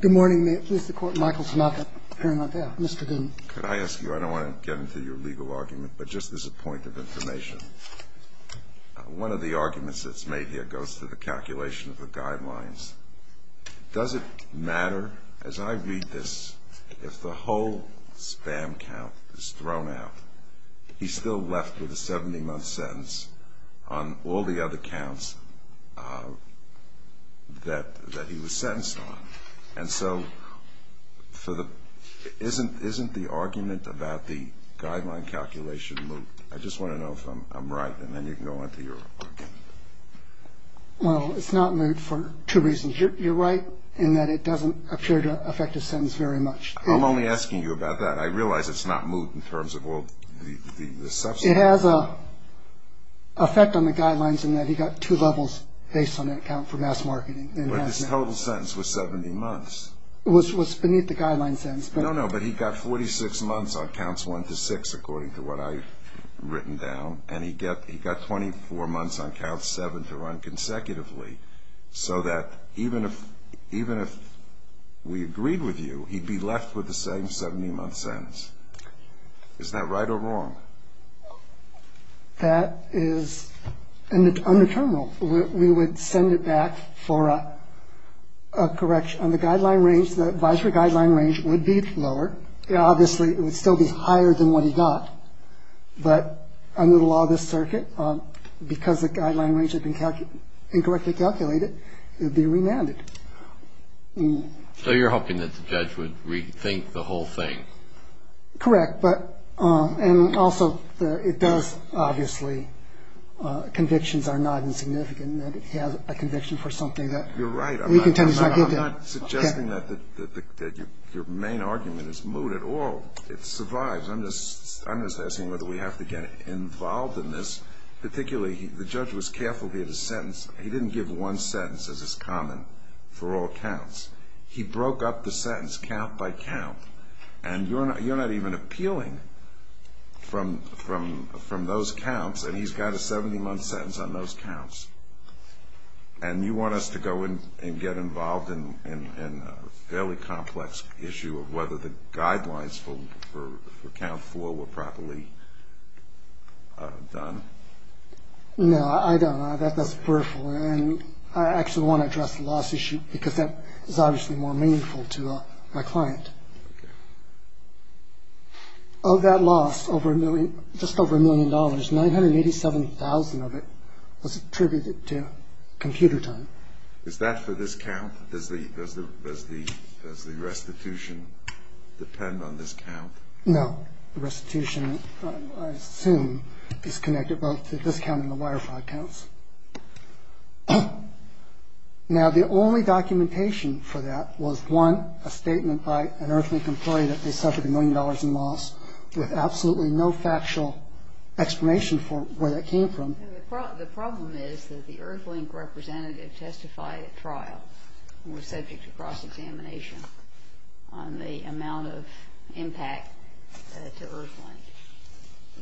Good morning. May it please the Court, Michael Smatley. Mr. Goodin. Could I ask you, I don't want to get into your legal argument, but just as a point of information, one of the arguments that's made here goes to the calculation of the guidelines. Does it matter, as I read this, if the whole spam count is thrown out, he's still left with a 70-month sentence on all the other counts that he was sentenced on? And so isn't the argument about the guideline calculation moot? I just want to know if I'm right, and then you can go on to your argument. Well, it's not moot for two reasons. You're right in that it doesn't appear to affect his sentence very much. I'm only asking you about that. I realize it's not moot in terms of all the substance. It has an effect on the guidelines in that he got two levels based on that count for mass marketing. But his total sentence was 70 months. It was beneath the guideline sentence. No, no, but he got 46 months on counts one to six, according to what I've written down, and he got 24 months on count seven to run consecutively, so that even if we agreed with you, he'd be left with the same 70-month sentence. Isn't that right or wrong? That is under terminal. We would send it back for a correction. On the guideline range, the advisory guideline range would be lower. Obviously, it would still be higher than what he got, but under the law of this circuit, because the guideline range had been incorrectly calculated, it would be remanded. So you're hoping that the judge would rethink the whole thing? Correct, and also it does, obviously, convictions are not insignificant, and if he has a conviction for something that he contends not to do. You're right. I'm not suggesting that your main argument is moot at all. It survives. I'm just asking whether we have to get involved in this. Particularly, the judge was careful with his sentence. He didn't give one sentence, as is common for all counts. He broke up the sentence count by count, and you're not even appealing from those counts, and he's got a 70-month sentence on those counts, and you want us to go in and get involved in a fairly complex issue of whether the guidelines for count four were properly done? No, I don't. That's peripheral, and I actually want to address the loss issue because that is obviously more meaningful to my client. Of that loss, just over a million dollars, 987,000 of it was attributed to computer time. Is that for this count? Does the restitution depend on this count? No. The restitution, I assume, is connected both to this count and the wire fraud counts. Now, the only documentation for that was, one, a statement by an Earthlink employee that they suffered a million dollars in loss, with absolutely no factual explanation for where that came from. And the problem is that the Earthlink representative testified at trial and was subject to cross-examination on the amount of impact to Earthlink.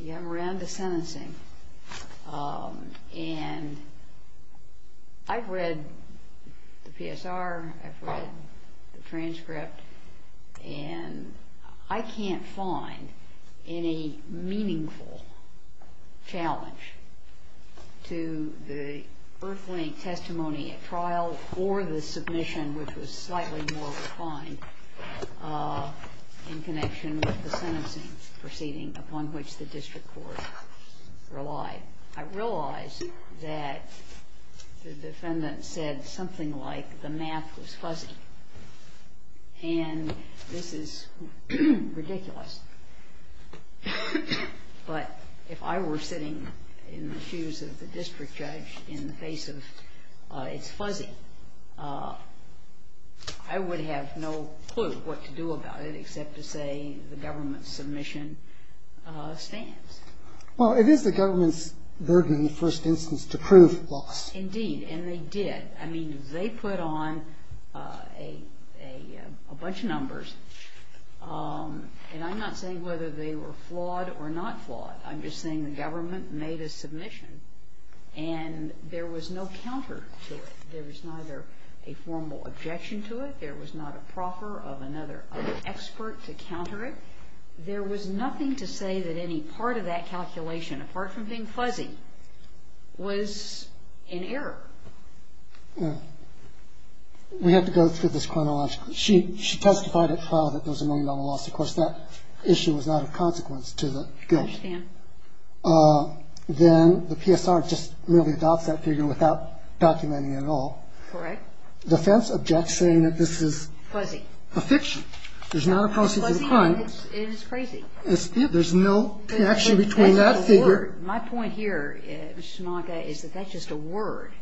We got around to sentencing, and I've read the PSR, I've read the transcript, and I can't find any meaningful challenge to the Earthlink testimony at trial or the submission, which was slightly more refined, in connection with the sentencing proceeding upon which the district court relied. I realize that the defendant said something like, the math was fuzzy. And this is ridiculous. But if I were sitting in the shoes of the district judge in the face of, it's fuzzy, I would have no clue what to do about it except to say the government submission stands. Well, it is the government's burden in the first instance to prove loss. Indeed, and they did. I mean, they put on a bunch of numbers. And I'm not saying whether they were flawed or not flawed. I'm just saying the government made a submission, and there was no counter to it. There was neither a formal objection to it. There was not a proffer of another expert to counter it. There was nothing to say that any part of that calculation, apart from being fuzzy, was in error. We have to go through this chronologically. She testified at trial that there was a million-dollar loss. Of course, that issue was not a consequence to the guilt. I understand. Then the PSR just merely adopts that figure without documenting it at all. Correct. The defense objects, saying that this is a fiction. There's not a process in front. It is crazy. There's no connection between that figure. My point here, Mr. Smonka, is that that's just a word.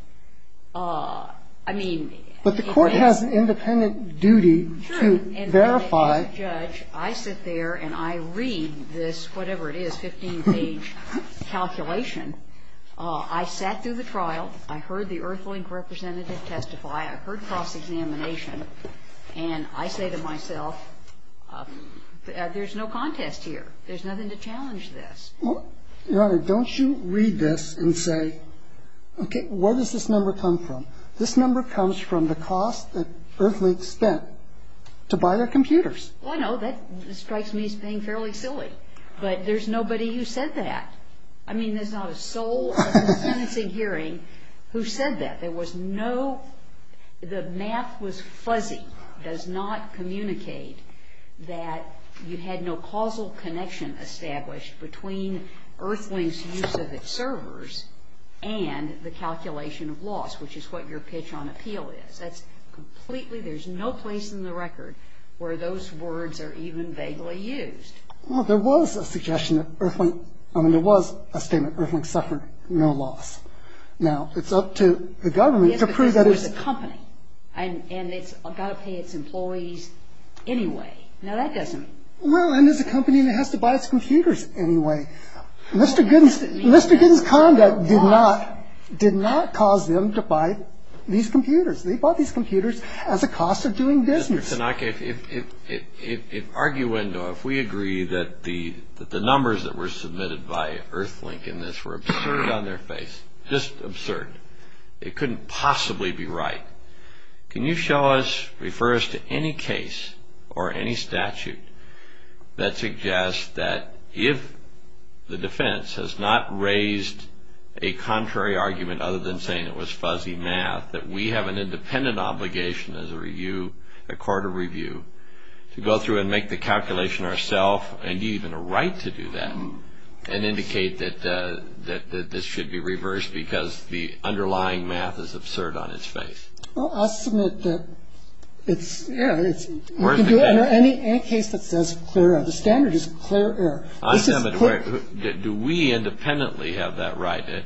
I mean, in essence. But the Court has an independent duty to verify. Sure. And as a judge, I sit there and I read this whatever it is, 15-page calculation. I sat through the trial. I heard the Earthling representative testify. I heard cross-examination. And I say to myself, there's no contest here. There's nothing to challenge this. Your Honor, don't you read this and say, okay, where does this number come from? This number comes from the cost that Earthlings spent to buy their computers. Well, I know. That strikes me as being fairly silly. But there's nobody who said that. I mean, there's not a soul at the sentencing hearing who said that. The math was fuzzy. It does not communicate that you had no causal connection established between Earthling's use of its servers and the calculation of loss, which is what your pitch on appeal is. There's no place in the record where those words are even vaguely used. Well, there was a suggestion that Earthling – I mean, there was a statement, Earthlings suffered no loss. Now, it's up to the government to prove that it's – Yes, because it was a company, and it's got to pay its employees anyway. Now, that doesn't – Well, and it's a company that has to buy its computers anyway. Mr. Gooden's conduct did not cause them to buy these computers. They bought these computers as a cost of doing business. Mr. Tanaka, if arguendo, if we agree that the numbers that were submitted by Earthling in this were absurd on their face, just absurd, it couldn't possibly be right, can you show us, refer us to any case or any statute that suggests that if the defense has not raised a contrary argument other than saying it was fuzzy math, that we have an independent obligation as a review, a court of review, to go through and make the calculation ourself, and even a right to do that, and indicate that this should be reversed because the underlying math is absurd on its face? Well, I'll submit that it's – You can do it under any case that says clear error. The standard is clear error. Do we independently have that right?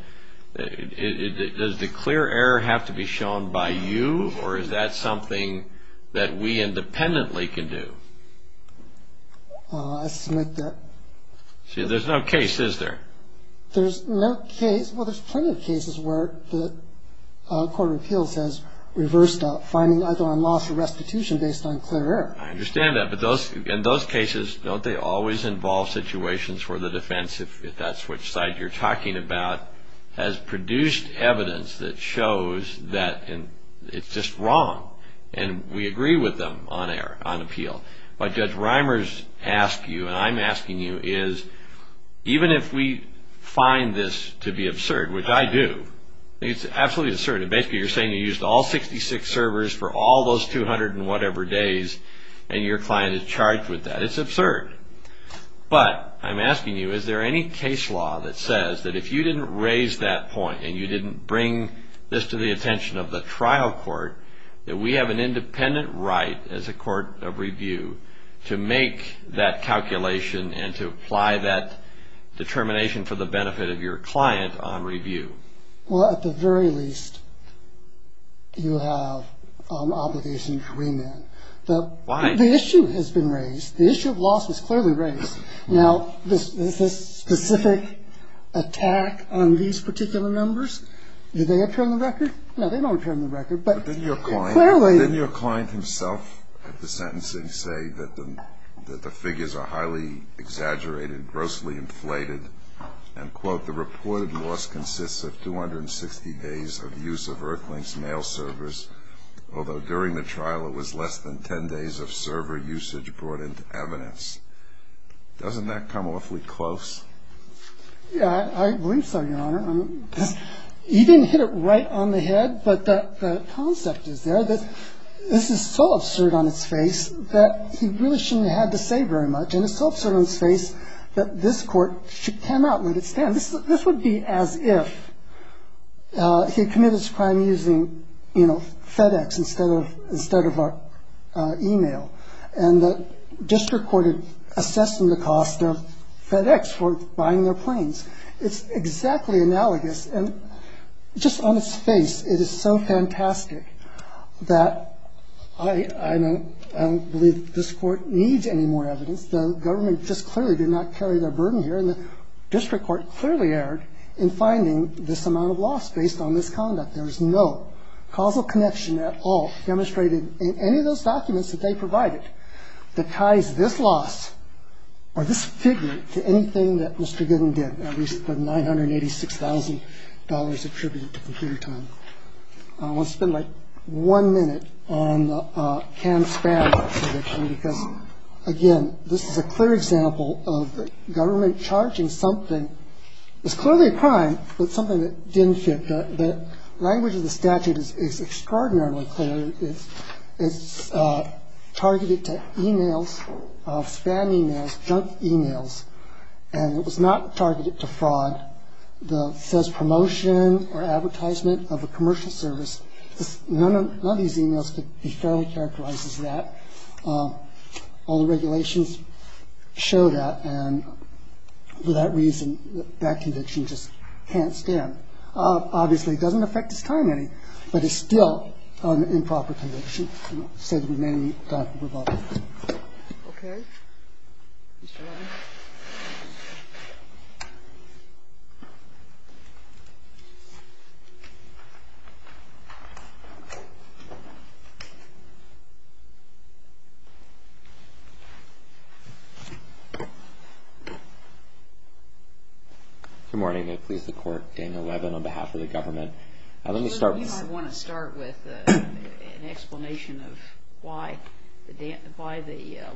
Does the clear error have to be shown by you, or is that something that we independently can do? I'll submit that. See, there's no case, is there? There's no case. Well, there's plenty of cases where the court of appeals has reversed a finding either on loss or restitution based on clear error. I understand that. But in those cases, don't they always involve situations where the defense, if that's which side you're talking about, has produced evidence that shows that it's just wrong, and we agree with them on appeal. What Judge Reimers asks you, and I'm asking you, is even if we find this to be absurd, which I do, it's absolutely absurd. Basically, you're saying you used all 66 servers for all those 200 and whatever days, and your client is charged with that. It's absurd. But I'm asking you, is there any case law that says that if you didn't raise that point, and you didn't bring this to the attention of the trial court, that we have an independent right as a court of review to make that calculation and to apply that determination for the benefit of your client on review? Well, at the very least, you have obligation to remand. Why? The issue has been raised. The issue of loss was clearly raised. Now, this specific attack on these particular numbers, do they appear on the record? No, they don't appear on the record. But didn't your client himself at the sentencing say that the figures are highly exaggerated, grossly inflated, and, quote, the reported loss consists of 260 days of use of Earthlink's mail servers, although during the trial it was less than 10 days of server usage brought into evidence. Doesn't that come awfully close? Yeah, I believe so, Your Honor. You didn't hit it right on the head, but the concept is there, that this is so absurd on its face that he really shouldn't have had to say very much, and it's so absurd on its face that this court cannot let it stand. This would be as if he had committed this crime using, you know, FedEx instead of our e-mail, and the district court had assessed the cost of FedEx for buying their planes. It's exactly analogous. And just on its face, it is so fantastic that I don't believe this court needs any more evidence. The government just clearly did not carry their burden here, and the district court clearly erred in finding this amount of loss based on this conduct. There is no causal connection at all demonstrated in any of those documents that they provided that ties this loss or this figure to anything that Mr. Gooden did, at least the nine hundred eighty six thousand dollars attributed to computer time. I want to spend like one minute on the can spam because, again, this is a clear example of the government charging something. It's clearly a crime, but something that didn't fit the language of the statute is extraordinarily clear. It's targeted to e-mails, spam e-mails, junk e-mails. And it was not targeted to fraud. It says promotion or advertisement of a commercial service. None of these e-mails could be fairly characterized as that. All the regulations show that. And for that reason, that conviction just can't stand. And that's a very clear example of the government, obviously, doesn't affect this crime any, but it's still an improper conviction. So we may need to revoke it. OK. Good morning. I please the court, Daniel Levin, on behalf of the government. I want to start with an explanation of why the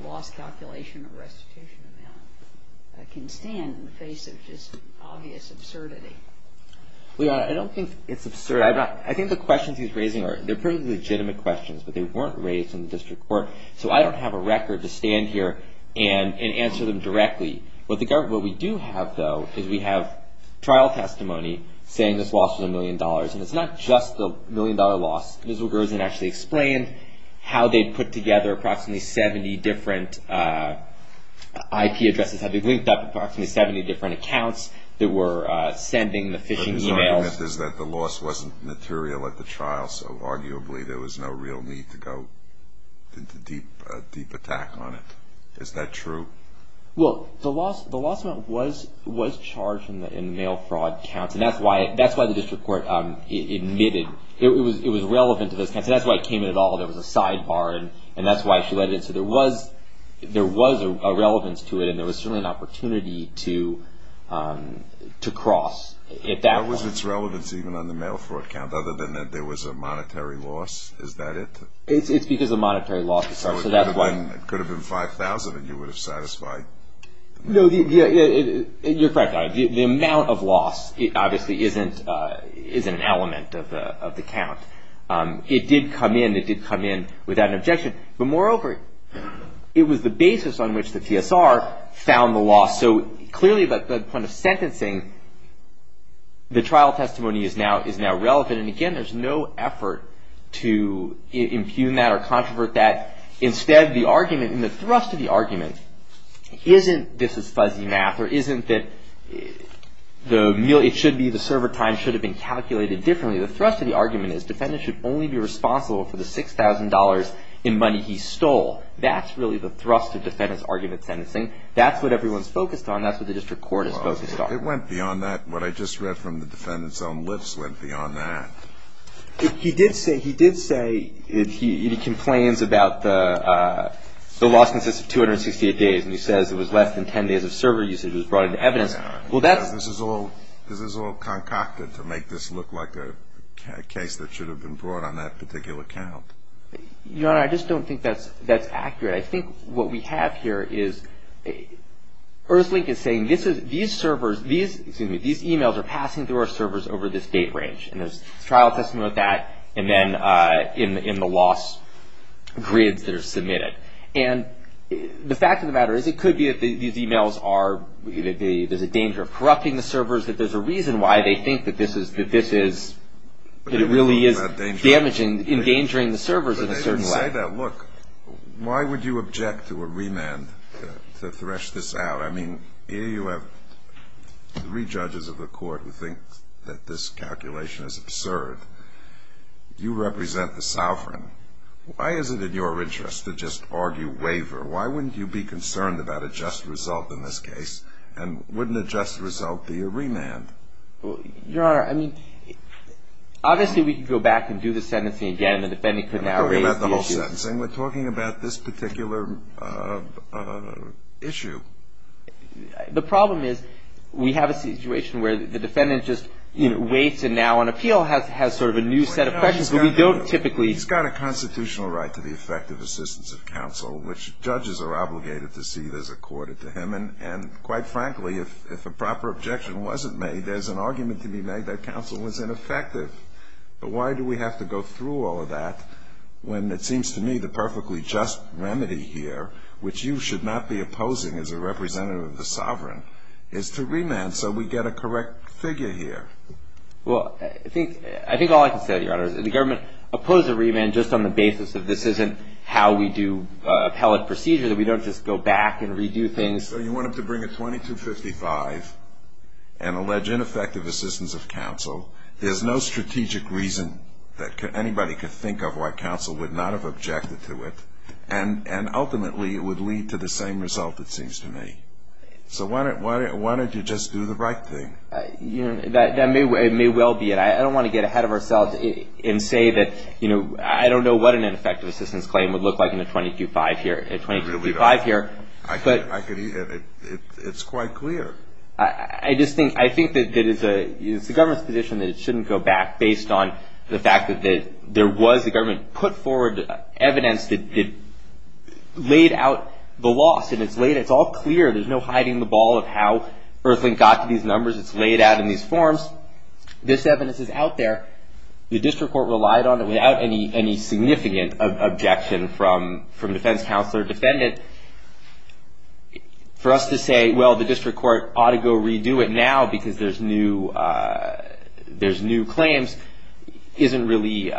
loss calculation or restitution amount can stand in the face of just obvious absurdity. I don't think it's absurd. I think the questions he's raising are legitimate questions, but they weren't raised in the district court. So I don't have a record to stand here and answer them directly. What we do have, though, is we have trial testimony saying this loss was $1 million. And it's not just the $1 million loss. Ms. Rogerson actually explained how they put together approximately 70 different IP addresses, how they linked up approximately 70 different accounts that were sending the phishing e-mails. But his argument is that the loss wasn't material at the trial, so arguably there was no real need to go into deep attack on it. Is that true? Well, the loss amount was charged in the mail fraud counts, and that's why the district court admitted it was relevant to those counts. That's why it came in at all. There was a sidebar, and that's why she let it in. So there was a relevance to it, and there was certainly an opportunity to cross at that point. What was its relevance even on the mail fraud count other than that there was a monetary loss? Is that it? It's because of monetary loss. It could have been $5,000, and you would have satisfied. No, you're correct. The amount of loss obviously isn't an element of the count. It did come in. It did come in without an objection. But moreover, it was the basis on which the TSR found the loss. So clearly the point of sentencing, the trial testimony is now relevant. And again, there's no effort to impugn that or controvert that. Instead, the argument and the thrust of the argument isn't this is fuzzy math or isn't that it should be the server time should have been calculated differently. The thrust of the argument is defendants should only be responsible for the $6,000 in money he stole. That's really the thrust of defendant's argument sentencing. That's what everyone's focused on. That's what the district court is focused on. It went beyond that. What I just read from the defendant's own lips went beyond that. He did say he complains about the loss consists of 268 days, and he says it was less than 10 days of server usage was brought into evidence. This is all concocted to make this look like a case that should have been brought on that particular count. Your Honor, I just don't think that's accurate. I think what we have here is Earthlink is saying these servers, excuse me, these e-mails are passing through our servers over this date range. And there's trial testimony of that and then in the loss grids that are submitted. And the fact of the matter is it could be that these e-mails are, there's a danger of corrupting the servers, that there's a reason why they think that this is, that it really is damaging, endangering the servers in a certain way. Why would you object to a remand to thresh this out? I mean, here you have three judges of the court who think that this calculation is absurd. You represent the sovereign. Why is it in your interest to just argue waiver? Why wouldn't you be concerned about a just result in this case? And wouldn't a just result be a remand? Your Honor, I mean, obviously we could go back and do the sentencing again. I'm not talking about the whole sentencing. We're talking about this particular issue. The problem is we have a situation where the defendant just waits and now on appeal has sort of a new set of questions, but we don't typically. He's got a constitutional right to the effective assistance of counsel, which judges are obligated to see as accorded to him. And quite frankly, if a proper objection wasn't made, there's an argument to be made that counsel was ineffective. But why do we have to go through all of that when it seems to me the perfectly just remedy here, which you should not be opposing as a representative of the sovereign, is to remand so we get a correct figure here? Well, I think all I can say, Your Honor, is that the government opposed a remand just on the basis that this isn't how we do appellate procedure, that we don't just go back and redo things. So you want them to bring a 2255 and allege ineffective assistance of counsel. There's no strategic reason that anybody could think of why counsel would not have objected to it, and ultimately it would lead to the same result, it seems to me. So why don't you just do the right thing? That may well be it. I don't want to get ahead of ourselves and say that, you know, I don't know what an ineffective assistance claim would look like in a 2255 here. It's quite clear. I think that it's the government's position that it shouldn't go back based on the fact that there was, the government put forward evidence that laid out the loss, and it's all clear. There's no hiding the ball of how Earthlink got to these numbers. It's laid out in these forms. This evidence is out there. The district court relied on it without any significant objection from defense counsel or defendant. For us to say, well, the district court ought to go redo it now because there's new claims, isn't really.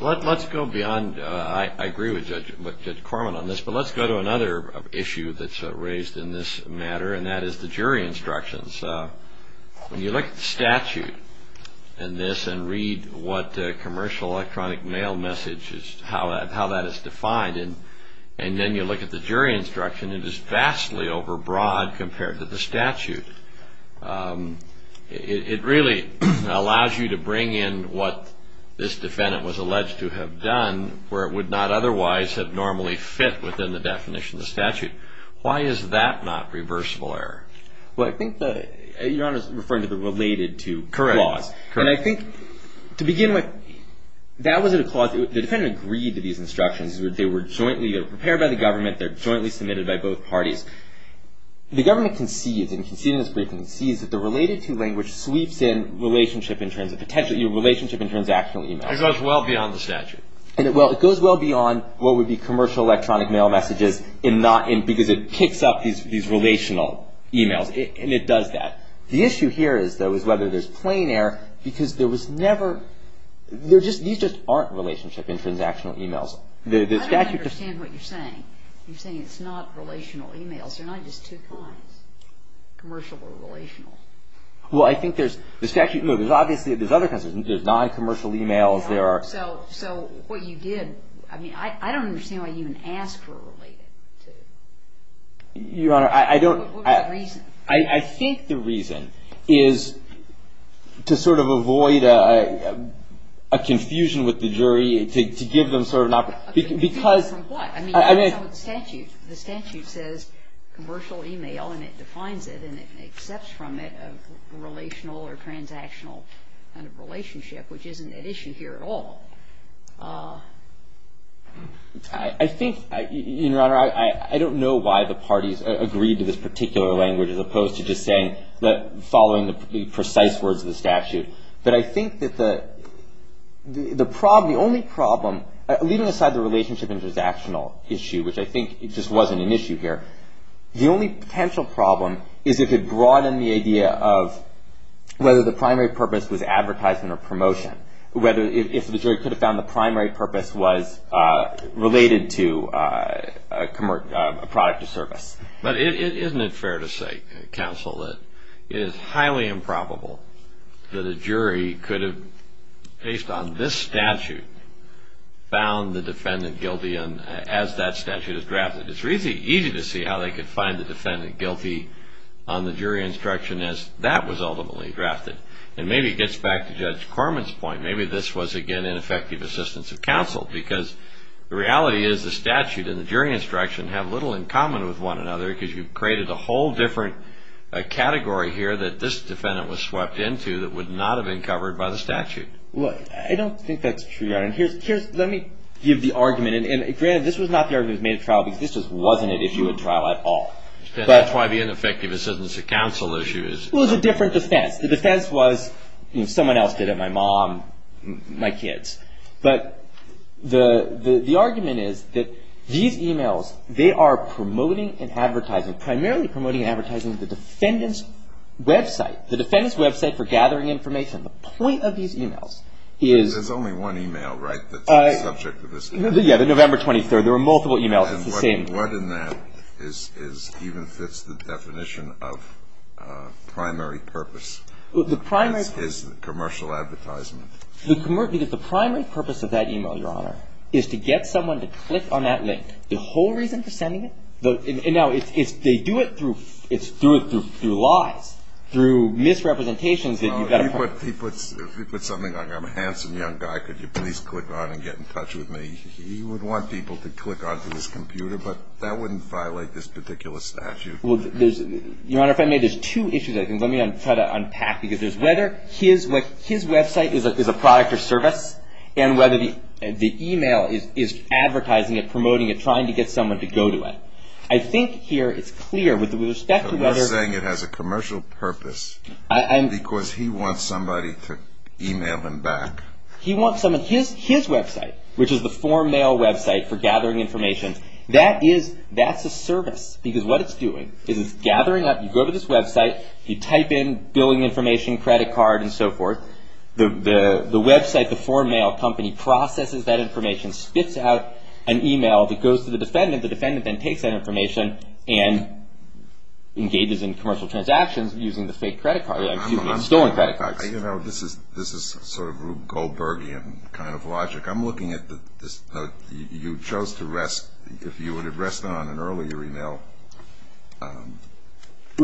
Let's go beyond. I agree with Judge Corman on this, but let's go to another issue that's raised in this matter, and that is the jury instructions. When you look at the statute in this and read what commercial electronic mail message is, how that is defined, and then you look at the jury instruction, it is vastly overbroad compared to the statute. It really allows you to bring in what this defendant was alleged to have done where it would not otherwise have normally fit within the definition of the statute. Why is that not reversible error? Well, I think that your Honor is referring to the related to clause. Correct. And I think to begin with, that wasn't a clause. The defendant agreed to these instructions. They were jointly prepared by the government. They're jointly submitted by both parties. The government concedes, and conceded in this briefing, concedes that the related to language sweeps in relationship in terms of potential, relationship in terms of actual emails. It goes well beyond the statute. And it goes well beyond what would be commercial electronic mail messages because it kicks up these relational emails, and it does that. The issue here is, though, is whether there's plain error because there was never, these just aren't relationship in transactional emails. I don't understand what you're saying. You're saying it's not relational emails. They're not just two kinds, commercial or relational. Well, I think there's, the statute, no, there's obviously, there's other kinds. There's noncommercial emails, there are. So what you did, I mean, I don't understand why you even asked for related to. Your Honor, I don't. What was the reason? I think the reason is to sort of avoid a confusion with the jury, to give them sort of an, because. A confusion from what? I mean, the statute says commercial email, and it defines it, and it accepts from it a relational or transactional kind of relationship, which isn't at issue here at all. I think, Your Honor, I don't know why the parties agreed to this particular language as opposed to just saying, following the precise words of the statute. But I think that the only problem, leaving aside the relationship and transactional issue, which I think just wasn't an issue here, the only potential problem is if it broadened the idea of whether the primary purpose was advertisement or promotion. If the jury could have found the primary purpose was related to a product or service. But isn't it fair to say, counsel, that it is highly improbable that a jury could have, based on this statute, found the defendant guilty as that statute is drafted. It's really easy to see how they could find the defendant guilty on the jury instruction as that was ultimately drafted. And maybe it gets back to Judge Corman's point. Maybe this was, again, ineffective assistance of counsel, because the reality is the statute and the jury instruction have little in common with one another because you've created a whole different category here that this defendant was swept into that would not have been covered by the statute. Well, I don't think that's true, Your Honor. Let me give the argument. And granted, this was not the argument that was made at trial because this just wasn't an issue at trial at all. That's why the ineffective assistance of counsel issue is. Well, it's a different defense. The defense was someone else did it, my mom, my kids. But the argument is that these e-mails, they are promoting and advertising, primarily promoting and advertising the defendant's website, the defendant's website for gathering information. The point of these e-mails is. There's only one e-mail, right, that's the subject of this case? Yeah, the November 23rd. There were multiple e-mails. It's the same. And what in that even fits the definition of primary purpose? The primary. That's his commercial advertisement. Because the primary purpose of that e-mail, Your Honor, is to get someone to click on that link. The whole reason for sending it. Now, they do it through lies, through misrepresentations. If he puts something like I'm a handsome young guy, could you please click on and get in touch with me? He would want people to click onto his computer, but that wouldn't violate this particular statute. Well, Your Honor, if I may, there's two issues I think. Let me try to unpack because there's whether his website is a product or service and whether the e-mail is advertising it, promoting it, trying to get someone to go to it. I think here it's clear with respect to whether. You're saying it has a commercial purpose because he wants somebody to e-mail him back. He wants someone. His website, which is the form mail website for gathering information, that's a service. Because what it's doing is it's gathering up. You go to this website. You type in billing information, credit card, and so forth. The website, the form mail company, processes that information, spits out an e-mail that goes to the defendant. The defendant then takes that information and engages in commercial transactions using the fake credit card. It's stolen credit cards. This is sort of Rube Goldbergian kind of logic. I'm looking at you chose to rest, if you would have rested on an earlier e-mail.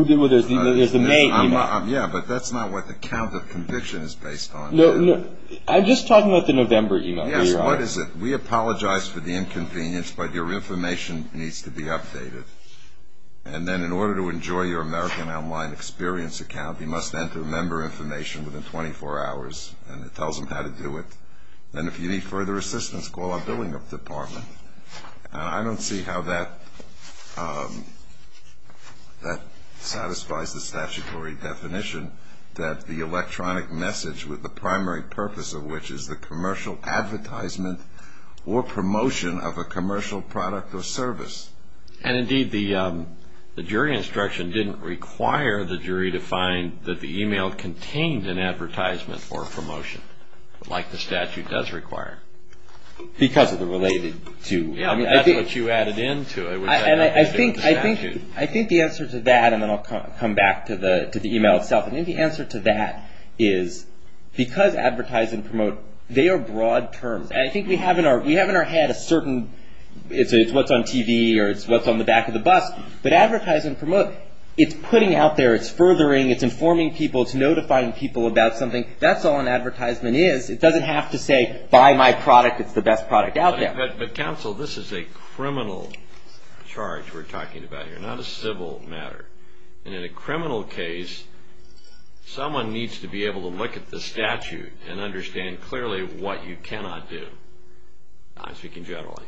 There's a main e-mail. Yeah, but that's not what the count of conviction is based on. No, I'm just talking about the November e-mail. Yes, what is it? We apologize for the inconvenience, but your information needs to be updated. And then in order to enjoy your American Online Experience account, you must enter member information within 24 hours and it tells them how to do it. And if you need further assistance, call our billing department. I don't see how that satisfies the statutory definition that the electronic message, with the primary purpose of which is the commercial advertisement or promotion of a commercial product or service. And, indeed, the jury instruction didn't require the jury to find that the e-mail contained an advertisement or a promotion. Like the statute does require. Because of the related to. Yeah, that's what you added into it. I think the answer to that, and then I'll come back to the e-mail itself. I think the answer to that is because advertise and promote, they are broad terms. And I think we have in our head a certain, it's what's on TV or it's what's on the back of the bus, but advertise and promote, it's putting out there, it's furthering, it's informing people, it's notifying people about something, that's all an advertisement is. It doesn't have to say, buy my product, it's the best product out there. But, counsel, this is a criminal charge we're talking about here, not a civil matter. And in a criminal case, someone needs to be able to look at the statute and understand clearly what you cannot do. I'm speaking generally.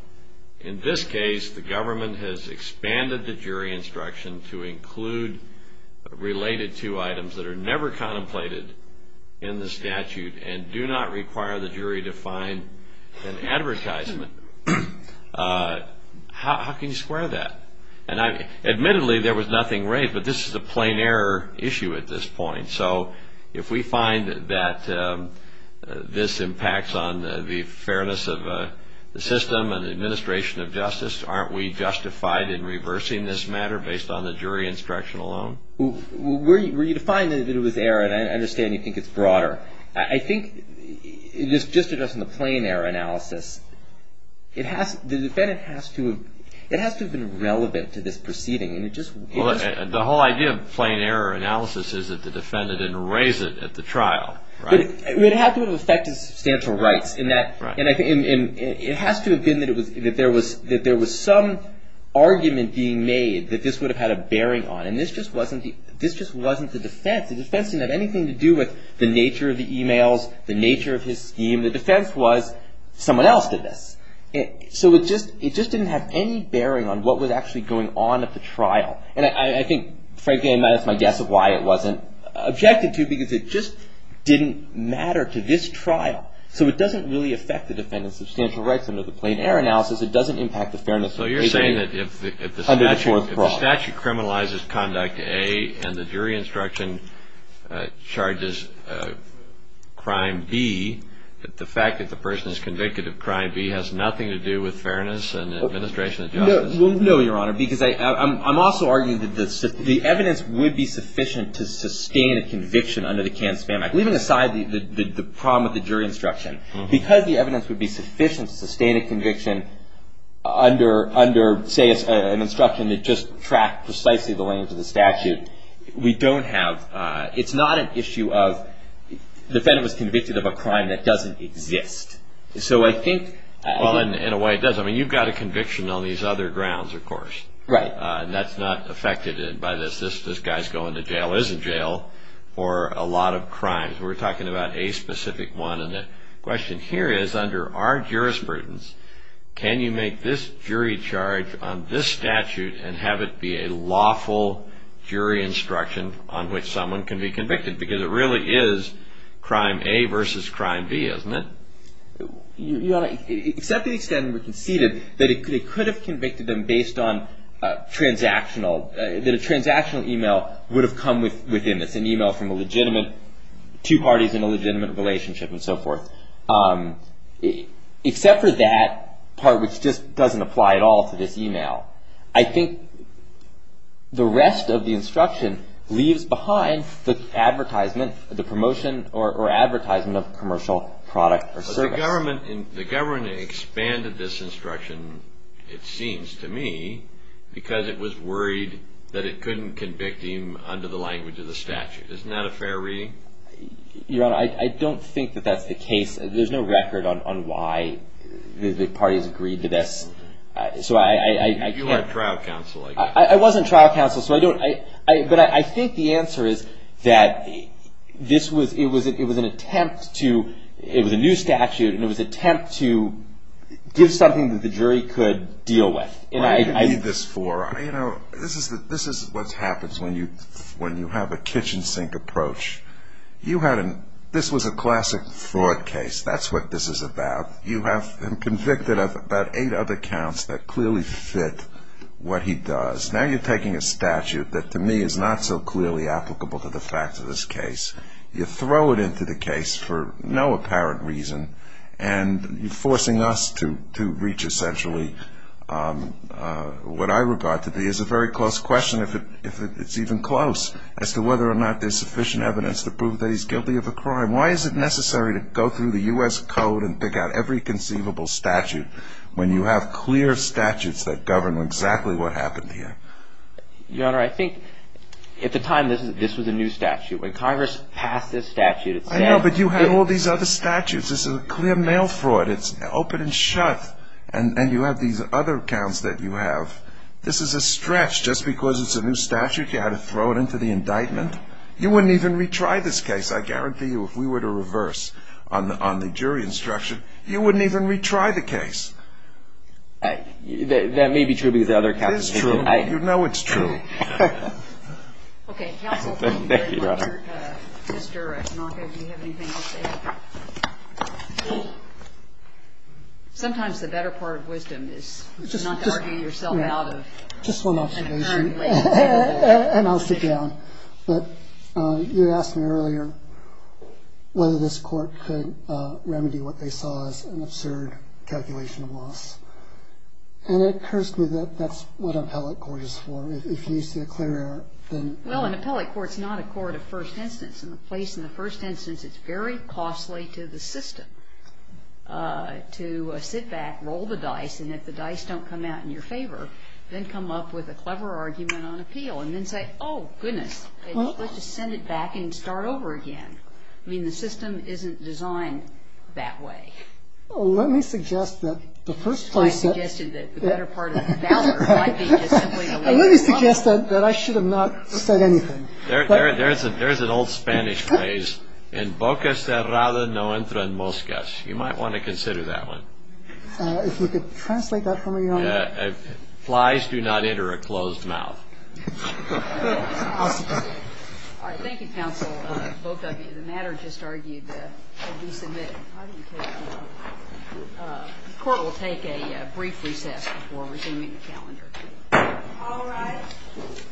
In this case, the government has expanded the jury instruction to include related to items that are never contemplated in the statute and do not require the jury to find an advertisement. How can you square that? Admittedly, there was nothing raised, but this is a plain error issue at this point. So, if we find that this impacts on the fairness of the system and the administration of justice, aren't we justified in reversing this matter based on the jury instruction alone? Were you to find that it was error, and I understand you think it's broader, I think just in the plain error analysis, the defendant has to have been relevant to this proceeding. The whole idea of plain error analysis is that the defendant didn't raise it at the trial. It would have to have affected substantial rights. It has to have been that there was some argument being made that this would have had a bearing on it. And this just wasn't the defense. The defense didn't have anything to do with the nature of the emails, the nature of his scheme. The defense was, someone else did this. So, it just didn't have any bearing on what was actually going on at the trial. And I think, frankly, that's my guess of why it wasn't objected to, because it just didn't matter to this trial. So, it doesn't really affect the defendant's substantial rights under the plain error analysis. It doesn't impact the fairness of the proceeding under the fourth clause. So, you're saying that if the statute criminalizes Conduct A and the jury instruction charges Crime B, that the fact that the person is convicted of Crime B has nothing to do with fairness and administration of justice? Well, no, Your Honor, because I'm also arguing that the evidence would be sufficient to sustain a conviction under the Kansman Act. Leaving aside the problem with the jury instruction, because the evidence would be sufficient to sustain a conviction under, say, an instruction that just tracked precisely the language of the statute, we don't have, it's not an issue of the defendant was convicted of a crime that doesn't exist. So, I think... Well, in a way, it does. I mean, you've got a conviction on these other grounds, of course. Right. And that's not affected by this. This guy's going to jail, is in jail, for a lot of crimes. We're talking about a specific one. And the question here is, under our jurisprudence, can you make this jury charge on this statute and have it be a lawful jury instruction on which someone can be convicted? Because it really is Crime A versus Crime B, isn't it? Your Honor, except the extent we conceded that it could have convicted them based on transactional, that a transactional email would have come within this, an email from a legitimate, two parties in a legitimate relationship and so forth. Except for that part, which just doesn't apply at all to this email. I think the rest of the instruction leaves behind the advertisement, the promotion or advertisement of commercial product or service. But the government expanded this instruction, it seems to me, because it was worried that it couldn't convict him under the language of the statute. Isn't that a fair reading? Your Honor, I don't think that that's the case. There's no record on why the parties agreed to this. So I can't. You were trial counsel, I guess. I wasn't trial counsel, so I don't. But I think the answer is that this was, it was an attempt to, it was a new statute, and it was an attempt to give something that the jury could deal with. This is what happens when you have a kitchen sink approach. This was a classic fraud case. That's what this is about. You have him convicted of about eight other counts that clearly fit what he does. Now you're taking a statute that, to me, is not so clearly applicable to the fact of this case. You throw it into the case for no apparent reason, and you're forcing us to reach essentially what I regard to be, is a very close question, if it's even close, as to whether or not there's sufficient evidence to prove that he's guilty of a crime. Why is it necessary to go through the U.S. Code and pick out every conceivable statute when you have clear statutes that govern exactly what happened here? Your Honor, I think at the time this was a new statute. When Congress passed this statute, it said. I know, but you had all these other statutes. This is a clear mail fraud. It's open and shut, and you have these other counts that you have. This is a stretch. Just because it's a new statute, you had to throw it into the indictment. You wouldn't even retry this case. I guarantee you if we were to reverse on the jury instruction, you wouldn't even retry the case. That may be true because the other counts are different. It is true. You know it's true. Okay, counsel. Thank you, Your Honor. Mr. Tanaka, do you have anything to say? Sometimes the better part of wisdom is not to argue yourself out of an adjournment. Just one observation, and I'll sit down. But you asked me earlier whether this Court could remedy what they saw as an absurd calculation of loss. And it occurs to me that that's what an appellate court is for. If you see a clear error, then. Well, an appellate court is not a court of first instance. In the place in the first instance, it's very costly to the system to sit back, roll the dice, and if the dice don't come out in your favor, then come up with a clever argument on appeal and then say, oh, goodness, let's just send it back and start over again. I mean, the system isn't designed that way. Well, let me suggest that the first place that. I suggested that the better part of valor might be just simply. Let me suggest that I should have not said anything. There's an old Spanish phrase, en boca cerrada no entran moscas. You might want to consider that one. If you could translate that for me, Your Honor. Flies do not enter a closed mouth. Thank you, counsel, both of you. The matter just argued will be submitted. The Court will take a brief recess before resuming the calendar. All rise.